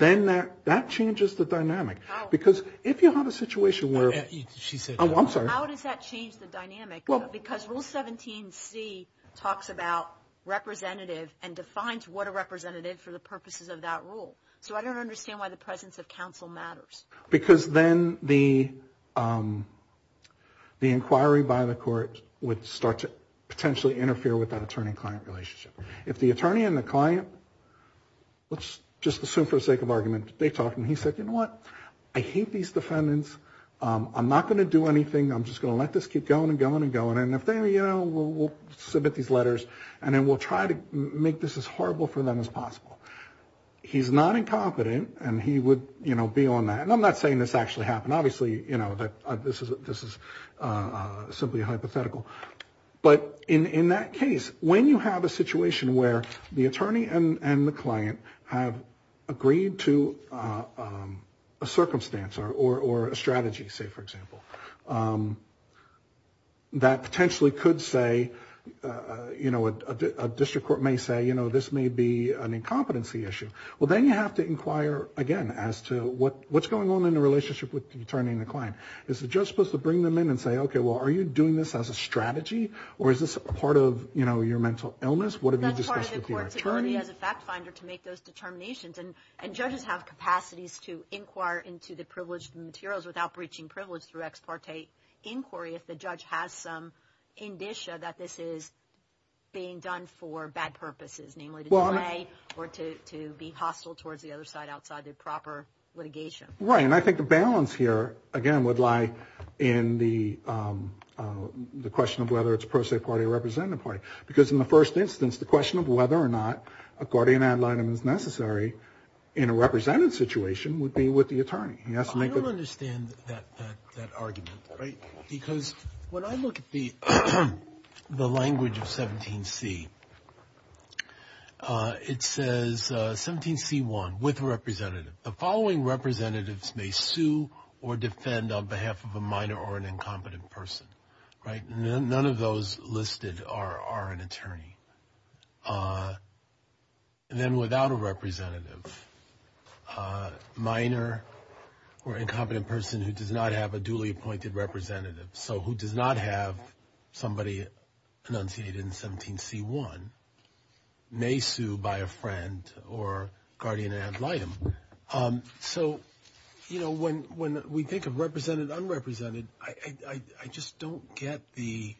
Then that that changes the dynamic because if you have a situation where she said, I'm sorry Because rule 17 C talks about Representative and defines what a representative for the purposes of that rule so I don't understand why the presence of counsel matters because then the The inquiry by the court would start to potentially interfere with that attorney-client relationship if the attorney and the client Let's just assume for the sake of argument. They talk and he said, you know what? I hate these defendants I'm not gonna do anything I'm just gonna let this keep going and going and going and if they you know We'll submit these letters and then we'll try to make this as horrible for them as possible He's not incompetent and he would you know be on that and I'm not saying this actually happened obviously, you know that this is this is simply a hypothetical but in in that case when you have a situation where the attorney and the client have agreed to a Circumstance or a strategy say for example That potentially could say You know what a district court may say, you know, this may be an incompetency issue Well, then you have to inquire again as to what what's going on in the relationship with the attorney and the client It's the judge supposed to bring them in and say, okay Well, are you doing this as a strategy or is this a part of you know, your mental illness? What have you discussed with the attorney? As a fact finder to make those determinations and and judges have capacities to inquire into the privileged materials without breaching privilege through Inquiry if the judge has some indicia that this is Being done for bad purposes namely the way or to be hostile towards the other side outside the proper litigation right, and I think the balance here again would lie in the The question of whether it's pro se party representative party because in the first instance the question of whether or not a guardian ad litem is Necessary in a representative situation would be with the attorney. Yes That argument right because when I look at the the language of 17c It says 17 c1 with representative the following representatives may sue or defend on behalf of a minor or an incompetent person Right. None of those listed are are an attorney And then without a representative A minor Or incompetent person who does not have a duly appointed representative. So who does not have somebody enunciated in 17 c1 may sue by a friend or guardian ad litem so, you know when when we think of represented unrepresented, I just don't get the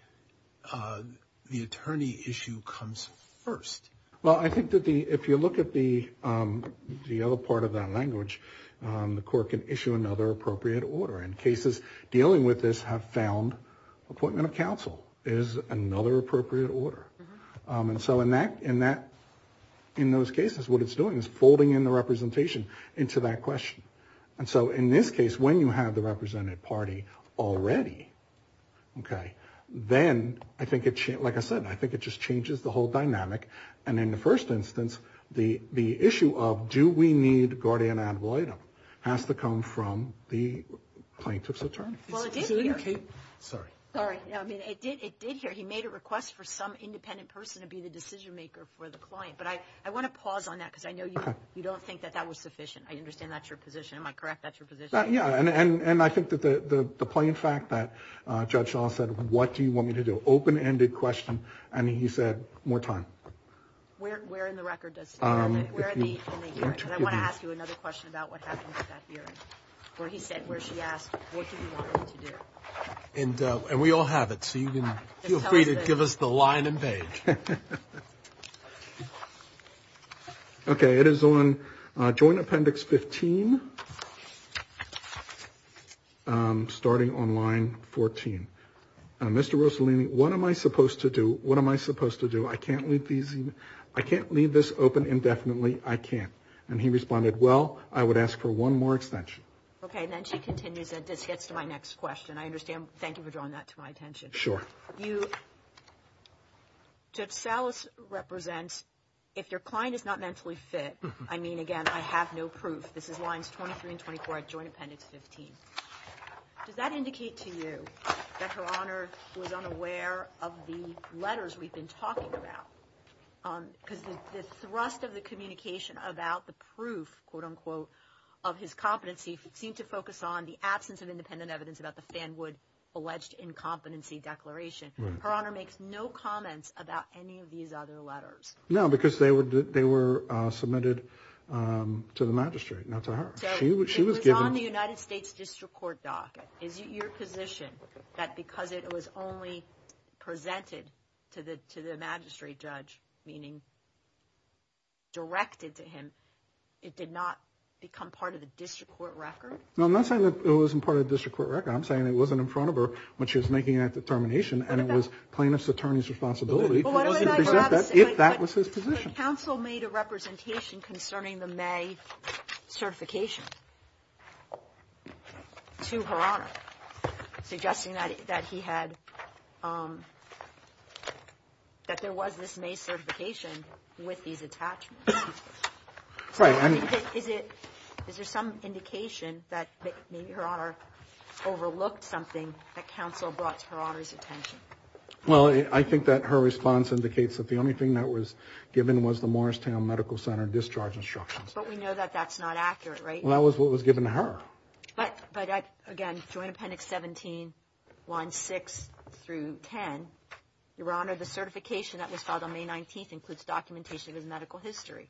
The attorney issue comes first. Well, I think that the if you look at the The other part of that language the court can issue another appropriate order in cases dealing with this have found Appointment of counsel is another appropriate order And so in that in that in those cases what it's doing is folding in the representation into that question And so in this case when you have the representative party already Okay, then I think it's like I said I think it just changes the whole dynamic and in the first instance the the issue of do we need guardian ad litem has to come from the plaintiff's attorney Sorry He made a request for some independent person to be the decision maker for the client But I I want to pause on that because I know you don't think that that was sufficient. I understand. That's your position Am I correct? That's your position? Yeah, and and and I think that the the plain fact that judge What do you want me to do open-ended question, I mean he said more time And and we all have it so you can feel free to give us the line and page Okay, it is on joint appendix 15 I'm starting on line 14 Mr. Rossellini, what am I supposed to do? What am I supposed to do? I can't leave these I can't leave this open indefinitely. I can't and he responded. Well, I would ask for one more extension Okay, and then she continues that this gets to my next question. I understand. Thank you for drawing that to my attention. Sure you Judge Salas represents if your client is not mentally fit. I mean again, I have no proof This is lines 23 and 24 at joint appendix 15 Does that indicate to you that her honor was unaware of the letters we've been talking about? because the thrust of the communication about the proof quote-unquote of His competency seemed to focus on the absence of independent evidence about the fan would alleged Incompetency declaration her honor makes no comments about any of these other letters. No because they would they were submitted To the magistrate not to her She was given the United States District Court docket is your position that because it was only presented to the to the magistrate judge meaning Directed to him it did not become part of the district court record. No, I'm not saying that it wasn't part of the district court record I'm saying it wasn't in front of her when she was making that determination and it was plaintiff's attorney's responsibility That was his position counsel made a representation concerning the May certification To her honor suggesting that that he had That there was this May certification with these attachments Right. I mean, is it is there some indication that maybe her honor? Overlooked something that counsel brought to her honor's attention Well, I think that her response indicates that the only thing that was given was the Morristown Medical Center discharge instructions But we know that that's not accurate right? Well, that was what was given to her But but again Joint Appendix 17 1 6 through 10 your honor the certification that was filed on May 19th includes documentation of his medical history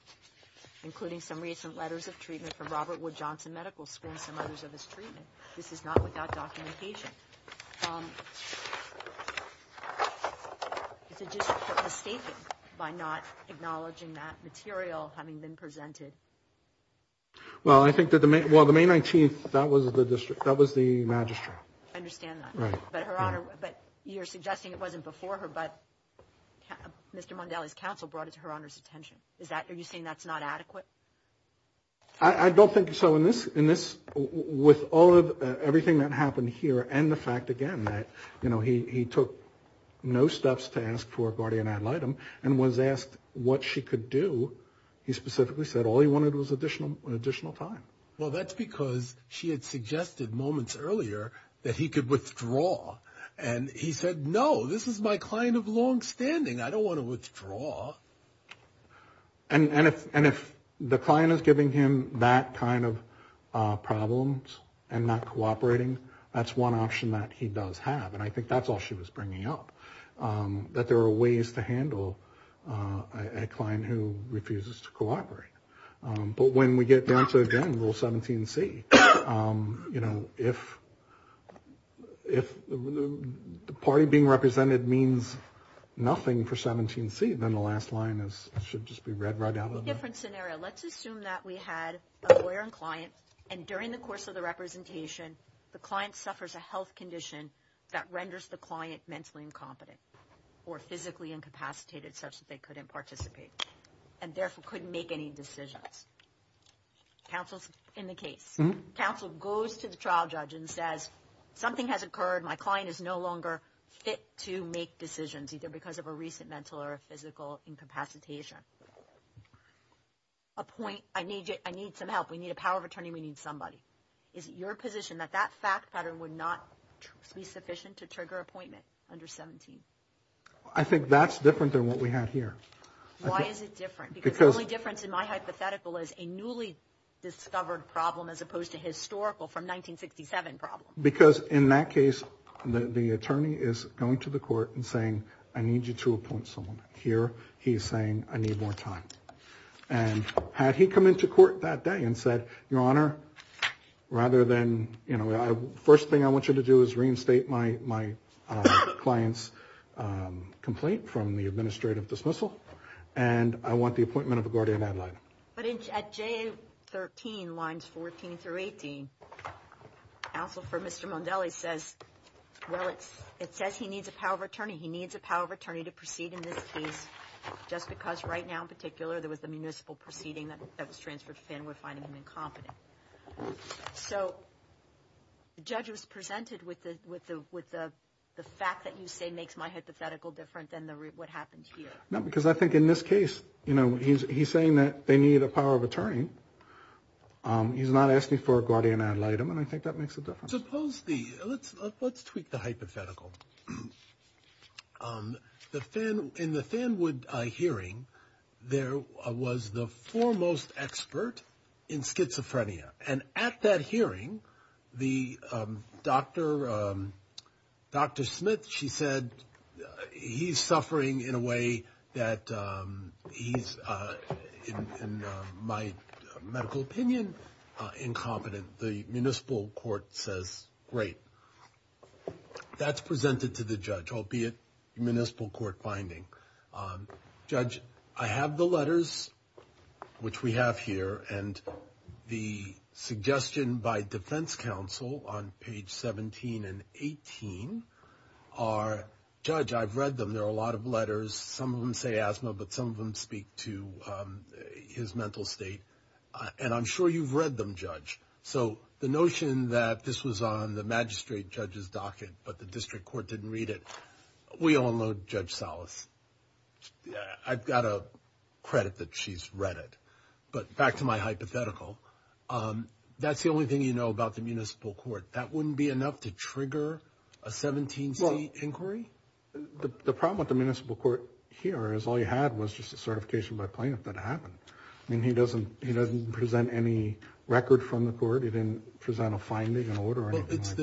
Including some recent letters of treatment from Robert Wood Johnson Medical School some others of his treatment This is not without documentation By not acknowledging that material having been presented Well, I think that the may well the May 19th. That was the district. That was the magistrate You're suggesting it wasn't before her but Mr. Mondelli's counsel brought it to her honor's attention. Is that are you saying that's not adequate? I Everything that happened here and the fact again that you know, he took No steps to ask for a guardian ad litem and was asked what she could do He specifically said all he wanted was additional an additional time Well, that's because she had suggested moments earlier that he could withdraw and he said no This is my client of long-standing. I don't want to withdraw and and if and if the client is giving him that kind of Problems and not cooperating. That's one option that he does have and I think that's all she was bringing up that there are ways to handle a client who refuses to cooperate but when we get down to again rule 17 C you know if if the party being represented means Nothing for 17 C. Then the last line is should just be read right out of different scenario Let's assume that we had a lawyer and client and during the course of the representation the client suffers a health condition that renders the client mentally incompetent or Physically incapacitated such that they couldn't participate and therefore couldn't make any decisions counsels in the case Counsel goes to the trial judge and says something has occurred My client is no longer fit to make decisions either because of a recent mental or a physical incapacitation I Point I need you. I need some help. We need a power of attorney We need somebody is it your position that that fact pattern would not be sufficient to trigger appointment under 17? I think that's different than what we had here Because only difference in my hypothetical is a newly discovered problem as opposed to historical from 1967 problem because in that case The attorney is going to the court and saying I need you to appoint someone here. He's saying I need more time and Had he come into court that day and said your honor Rather than you know, the first thing I want you to do is reinstate my my clients Complaint from the administrative dismissal and I want the appointment of a guardian ad litem, but it's at J 13 lines 14 through 18 Counsel for mr. Mondelli says Well, it's it says he needs a power of attorney. He needs a power of attorney to proceed in this case Just because right now in particular there was the municipal proceeding that was transferred Finn with finding him incompetent so The judge was presented with the with the with the the fact that you say makes my hypothetical different than the what happened here No, because I think in this case, you know, he's saying that they need a power of attorney He's not asking for a guardian ad litem and I think that makes it suppose the let's let's tweak the hypothetical The fan in the fan would I hearing there was the foremost expert in Schizophrenia and at that hearing the doctor Dr. Smith she said he's suffering in a way that he's My medical opinion Incompetent the municipal court says great That's presented to the judge. I'll be a municipal court finding Judge I have the letters which we have here and the suggestion by Defense Council on page 17 and 18 are Judge I've read them. There are a lot of letters. Some of them say asthma, but some of them speak to His mental state and I'm sure you've read them judge So the notion that this was on the magistrate judge's docket, but the district court didn't read it. We all know judge solace I've got a credit that she's read it but back to my hypothetical That's the only thing you know about the municipal court. That wouldn't be enough to trigger a Inquiry The problem with the municipal court here is all you had was just a certification by plaintiff that happened I mean, he doesn't he doesn't present any record from the court. He didn't present a finding an order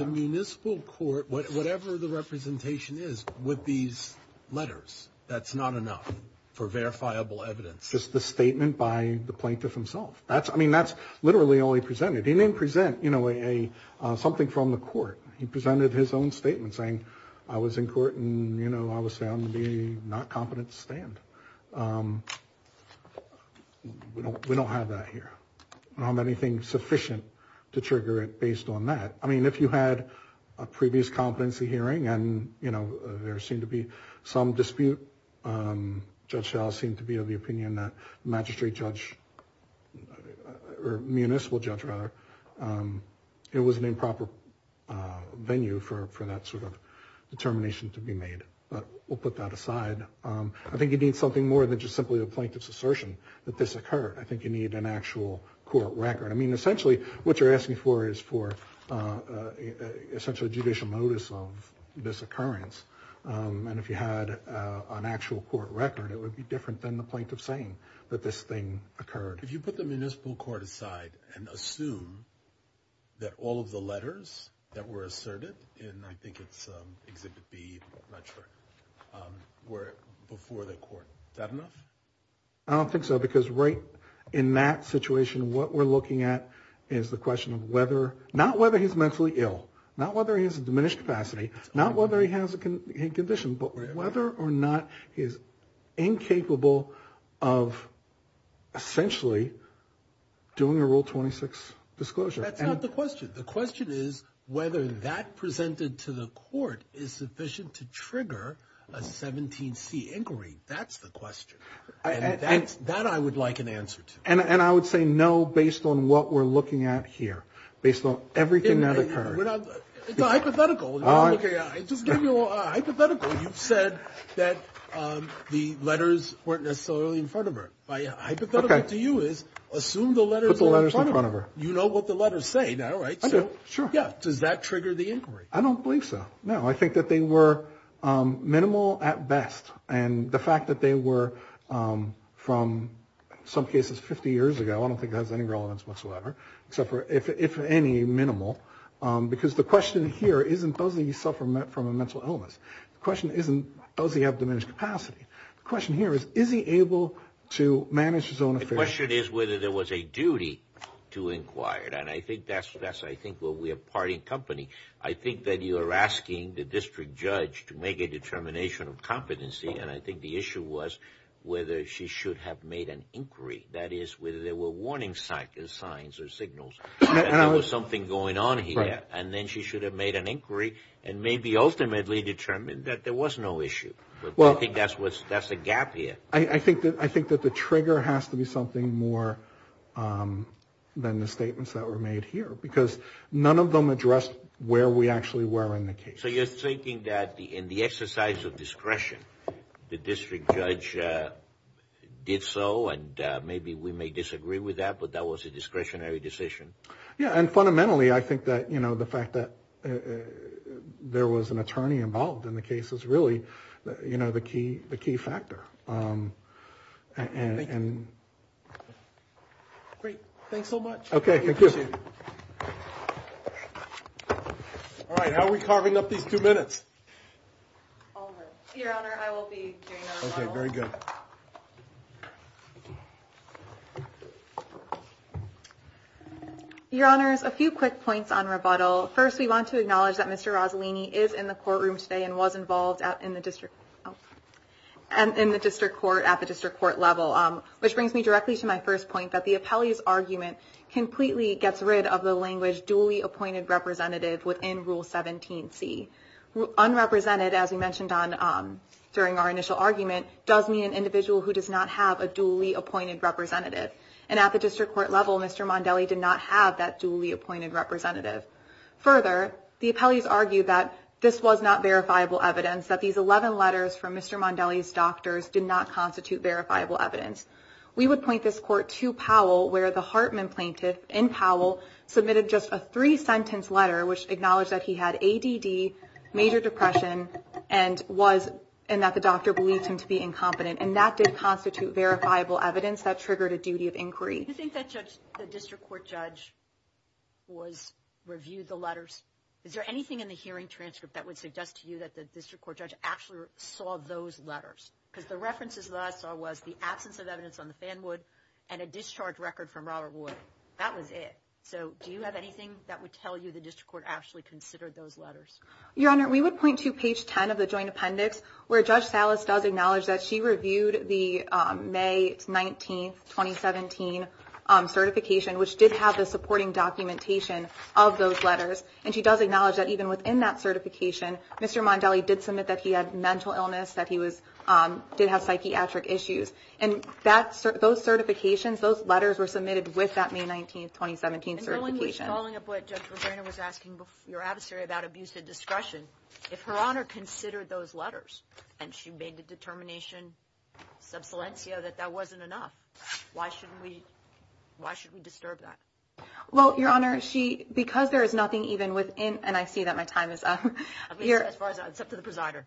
Municipal court whatever the representation is with these letters. That's not enough for verifiable evidence Just the statement by the plaintiff himself. That's I mean, that's literally all he presented. He didn't present, you know a Something from the court. He presented his own statement saying I was in court and you know, I was found to be not competent to stand We don't have that here, I don't have anything sufficient to trigger it based on that I mean if you had a previous competency hearing and you know, there seemed to be some dispute Judge shall seem to be of the opinion that magistrate judge Or municipal judge rather It was an improper venue for that sort of Determination to be made but we'll put that aside I think you need something more than just simply a plaintiff's assertion that this occurred. I think you need an actual court record I mean essentially what you're asking for is for Essentially judicial notice of this occurrence And if you had an actual court record It would be different than the point of saying that this thing occurred if you put the municipal court aside and assume That all of the letters that were asserted and I think it's exhibit B Were before the court that enough I Don't think so because right in that situation what we're looking at is the question of whether not whether he's mentally ill not whether he has a diminished capacity not whether he has a condition but whether or not he's incapable of Essentially Doing a rule 26 disclosure The question is whether that presented to the court is sufficient to trigger a 17 C inquiry That's the question That I would like an answer to and and I would say no based on what we're looking at here based on everything that occurred Said that The letters weren't necessarily in front of her To you is assume the letters the letters in front of her. You know what the letters say now, right? So sure. Yeah, does that trigger the inquiry? I don't believe so. No, I think that they were minimal at best and the fact that they were from Some cases 50 years ago. I don't think that has any relevance whatsoever. Except for if any minimal Because the question here isn't those that you suffer met from a mental illness Question isn't does he have diminished capacity the question here is is he able to manage his own? The question is whether there was a duty to inquire and I think that's that's I think what we have part in company I think that you are asking the district judge to make a determination of competency and I think the issue was Whether she should have made an inquiry that is whether there were warning cycle signs or signals Something going on here and then she should have made an inquiry and maybe ultimately determined that there was no issue Well, I think that's what's that's a gap here. I think that I think that the trigger has to be something more Than the statements that were made here because none of them addressed where we actually were in the case So you're thinking that the in the exercise of discretion the district judge? Did so and maybe we may disagree with that, but that was a discretionary decision yeah, and fundamentally I think that you know the fact that There was an attorney involved in the case is really, you know, the key the key factor Great thanks so much. Okay All right, how are we carving up these two minutes Your Honor's a few quick points on rebuttal first. We want to acknowledge that. Mr Rosalini is in the courtroom today and was involved out in the district And in the district court at the district court level, which brings me directly to my first point that the appellees argument Completely gets rid of the language duly appointed representative within rule 17 C Unrepresented as we mentioned on During our initial argument does mean an individual who does not have a duly appointed representative and at the district court level Mr. Mondelli did not have that duly appointed representative Further the appellees argued that this was not verifiable evidence that these 11 letters from mr Mondelli's doctors did not constitute verifiable evidence We would point this court to Powell where the Hartman plaintiff in Powell submitted just a three sentence letter Acknowledged that he had ADD major depression and was and that the doctor believed him to be incompetent and that did constitute Verifiable evidence that triggered a duty of inquiry. I think that judge the district court judge Was reviewed the letters? Is there anything in the hearing transcript that would suggest to you that the district court judge actually? Saw those letters because the references last I was the absence of evidence on the fan would and a discharge record from Robert That was it so do you have anything that would tell you the district court actually considered those letters your honor We would point to page 10 of the joint appendix where judge Salas does acknowledge that she reviewed the May 19th 2017 Certification which did have the supporting documentation of those letters and she does acknowledge that even within that certification Mr. Mondelli did submit that he had mental illness that he was Did have psychiatric issues and that's those certifications those letters were submitted with that May 19th 2017 certification Your adversary about abusive discretion if her honor considered those letters and she made the determination Subsidence, you know that that wasn't enough. Why shouldn't we? Why should we disturb that? Well your honor she because there is nothing even within and I see that my time is up To the presider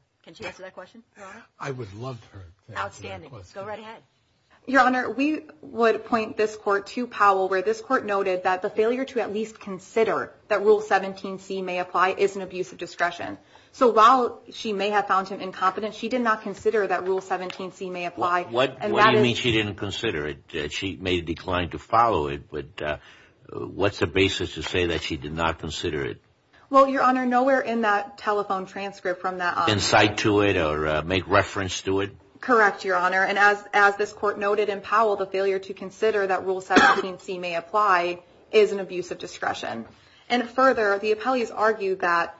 Your honor we would point this court to Powell where this court noted that the failure to at least consider that rule 17c may apply It's an abusive discretion. So while she may have found him incompetent. She did not consider that rule 17c may apply What what do you mean? She didn't consider it. She may decline to follow it, but What's the basis to say that she did not consider it well your honor nowhere in that telephone transcript from that Insight to it or make reference to it Correct your honor and as as this court noted in Powell the failure to consider that rule 17c may apply is an abusive discretion and further the appellees argued that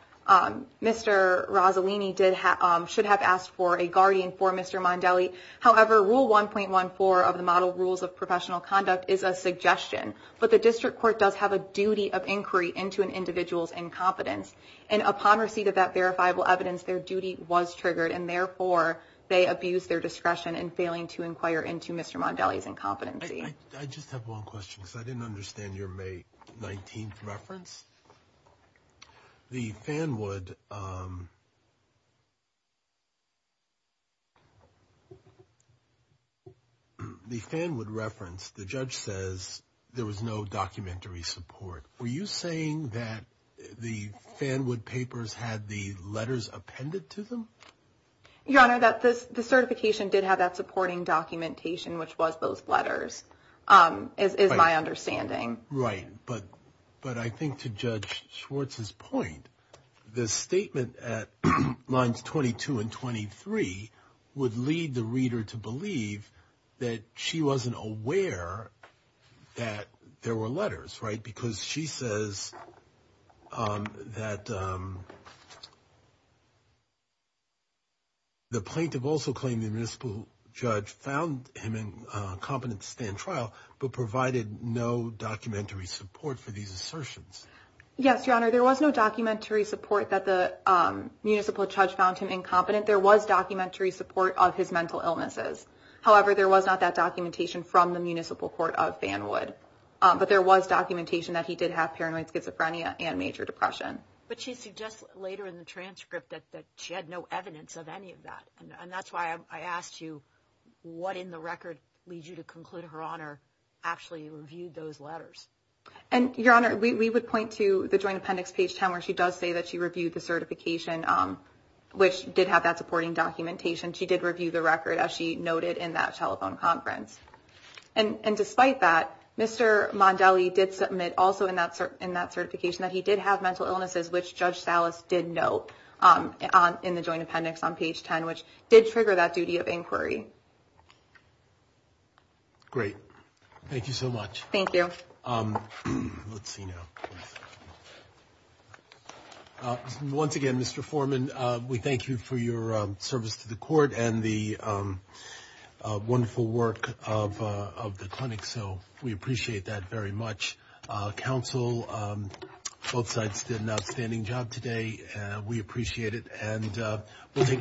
Mr. Rossellini did have should have asked for a guardian for mr. However rule 1.14 of the model rules of professional conduct is a suggestion But the district court does have a duty of inquiry into an individual's incompetence and upon receipt of that verifiable evidence Their duty was triggered and therefore they abused their discretion and failing to inquire into. Mr. Mondelli's incompetency. I just have one question because I didn't understand your May 19th reference the fan would The Fan would reference the judge says there was no documentary support Were you saying that the fan would papers had the letters appended to them? Your honor that this the certification did have that supporting documentation, which was those letters Is my understanding right but but I think to judge Schwartz's point The statement at lines 22 and 23 Would lead the reader to believe that she wasn't aware That there were letters right because she says That The plaintiff also claimed the municipal judge found him in competent stand trial but provided no documentary support for these assertions Yes, your honor there was no documentary support that the Municipal judge found him incompetent. There was documentary support of his mental illnesses However, there was not that documentation from the municipal court of fan would but there was documentation that he did have paranoid schizophrenia And major depression, but she suggests later in the transcript that she had no evidence of any of that and that's why I asked you What in the record leads you to conclude her honor? Actually reviewed those letters and your honor we would point to the joint appendix page 10 where she does say that she reviewed the certification Which did have that supporting documentation? She did review the record as she noted in that telephone conference and and despite that Mr. Mondelli did submit also in that certain in that certification that he did have mental illnesses, which judge Salas did note In the joint appendix on page 10, which did trigger that duty of inquiry Great, thank you so much. Thank you Once again, mr. Foreman we thank you for your service to the court and the Wonderful work of the clinic. So we appreciate that very much counsel Both sides did an outstanding job today. We appreciate it and we'll take them after the hearing Thank you. Thank you. Thank you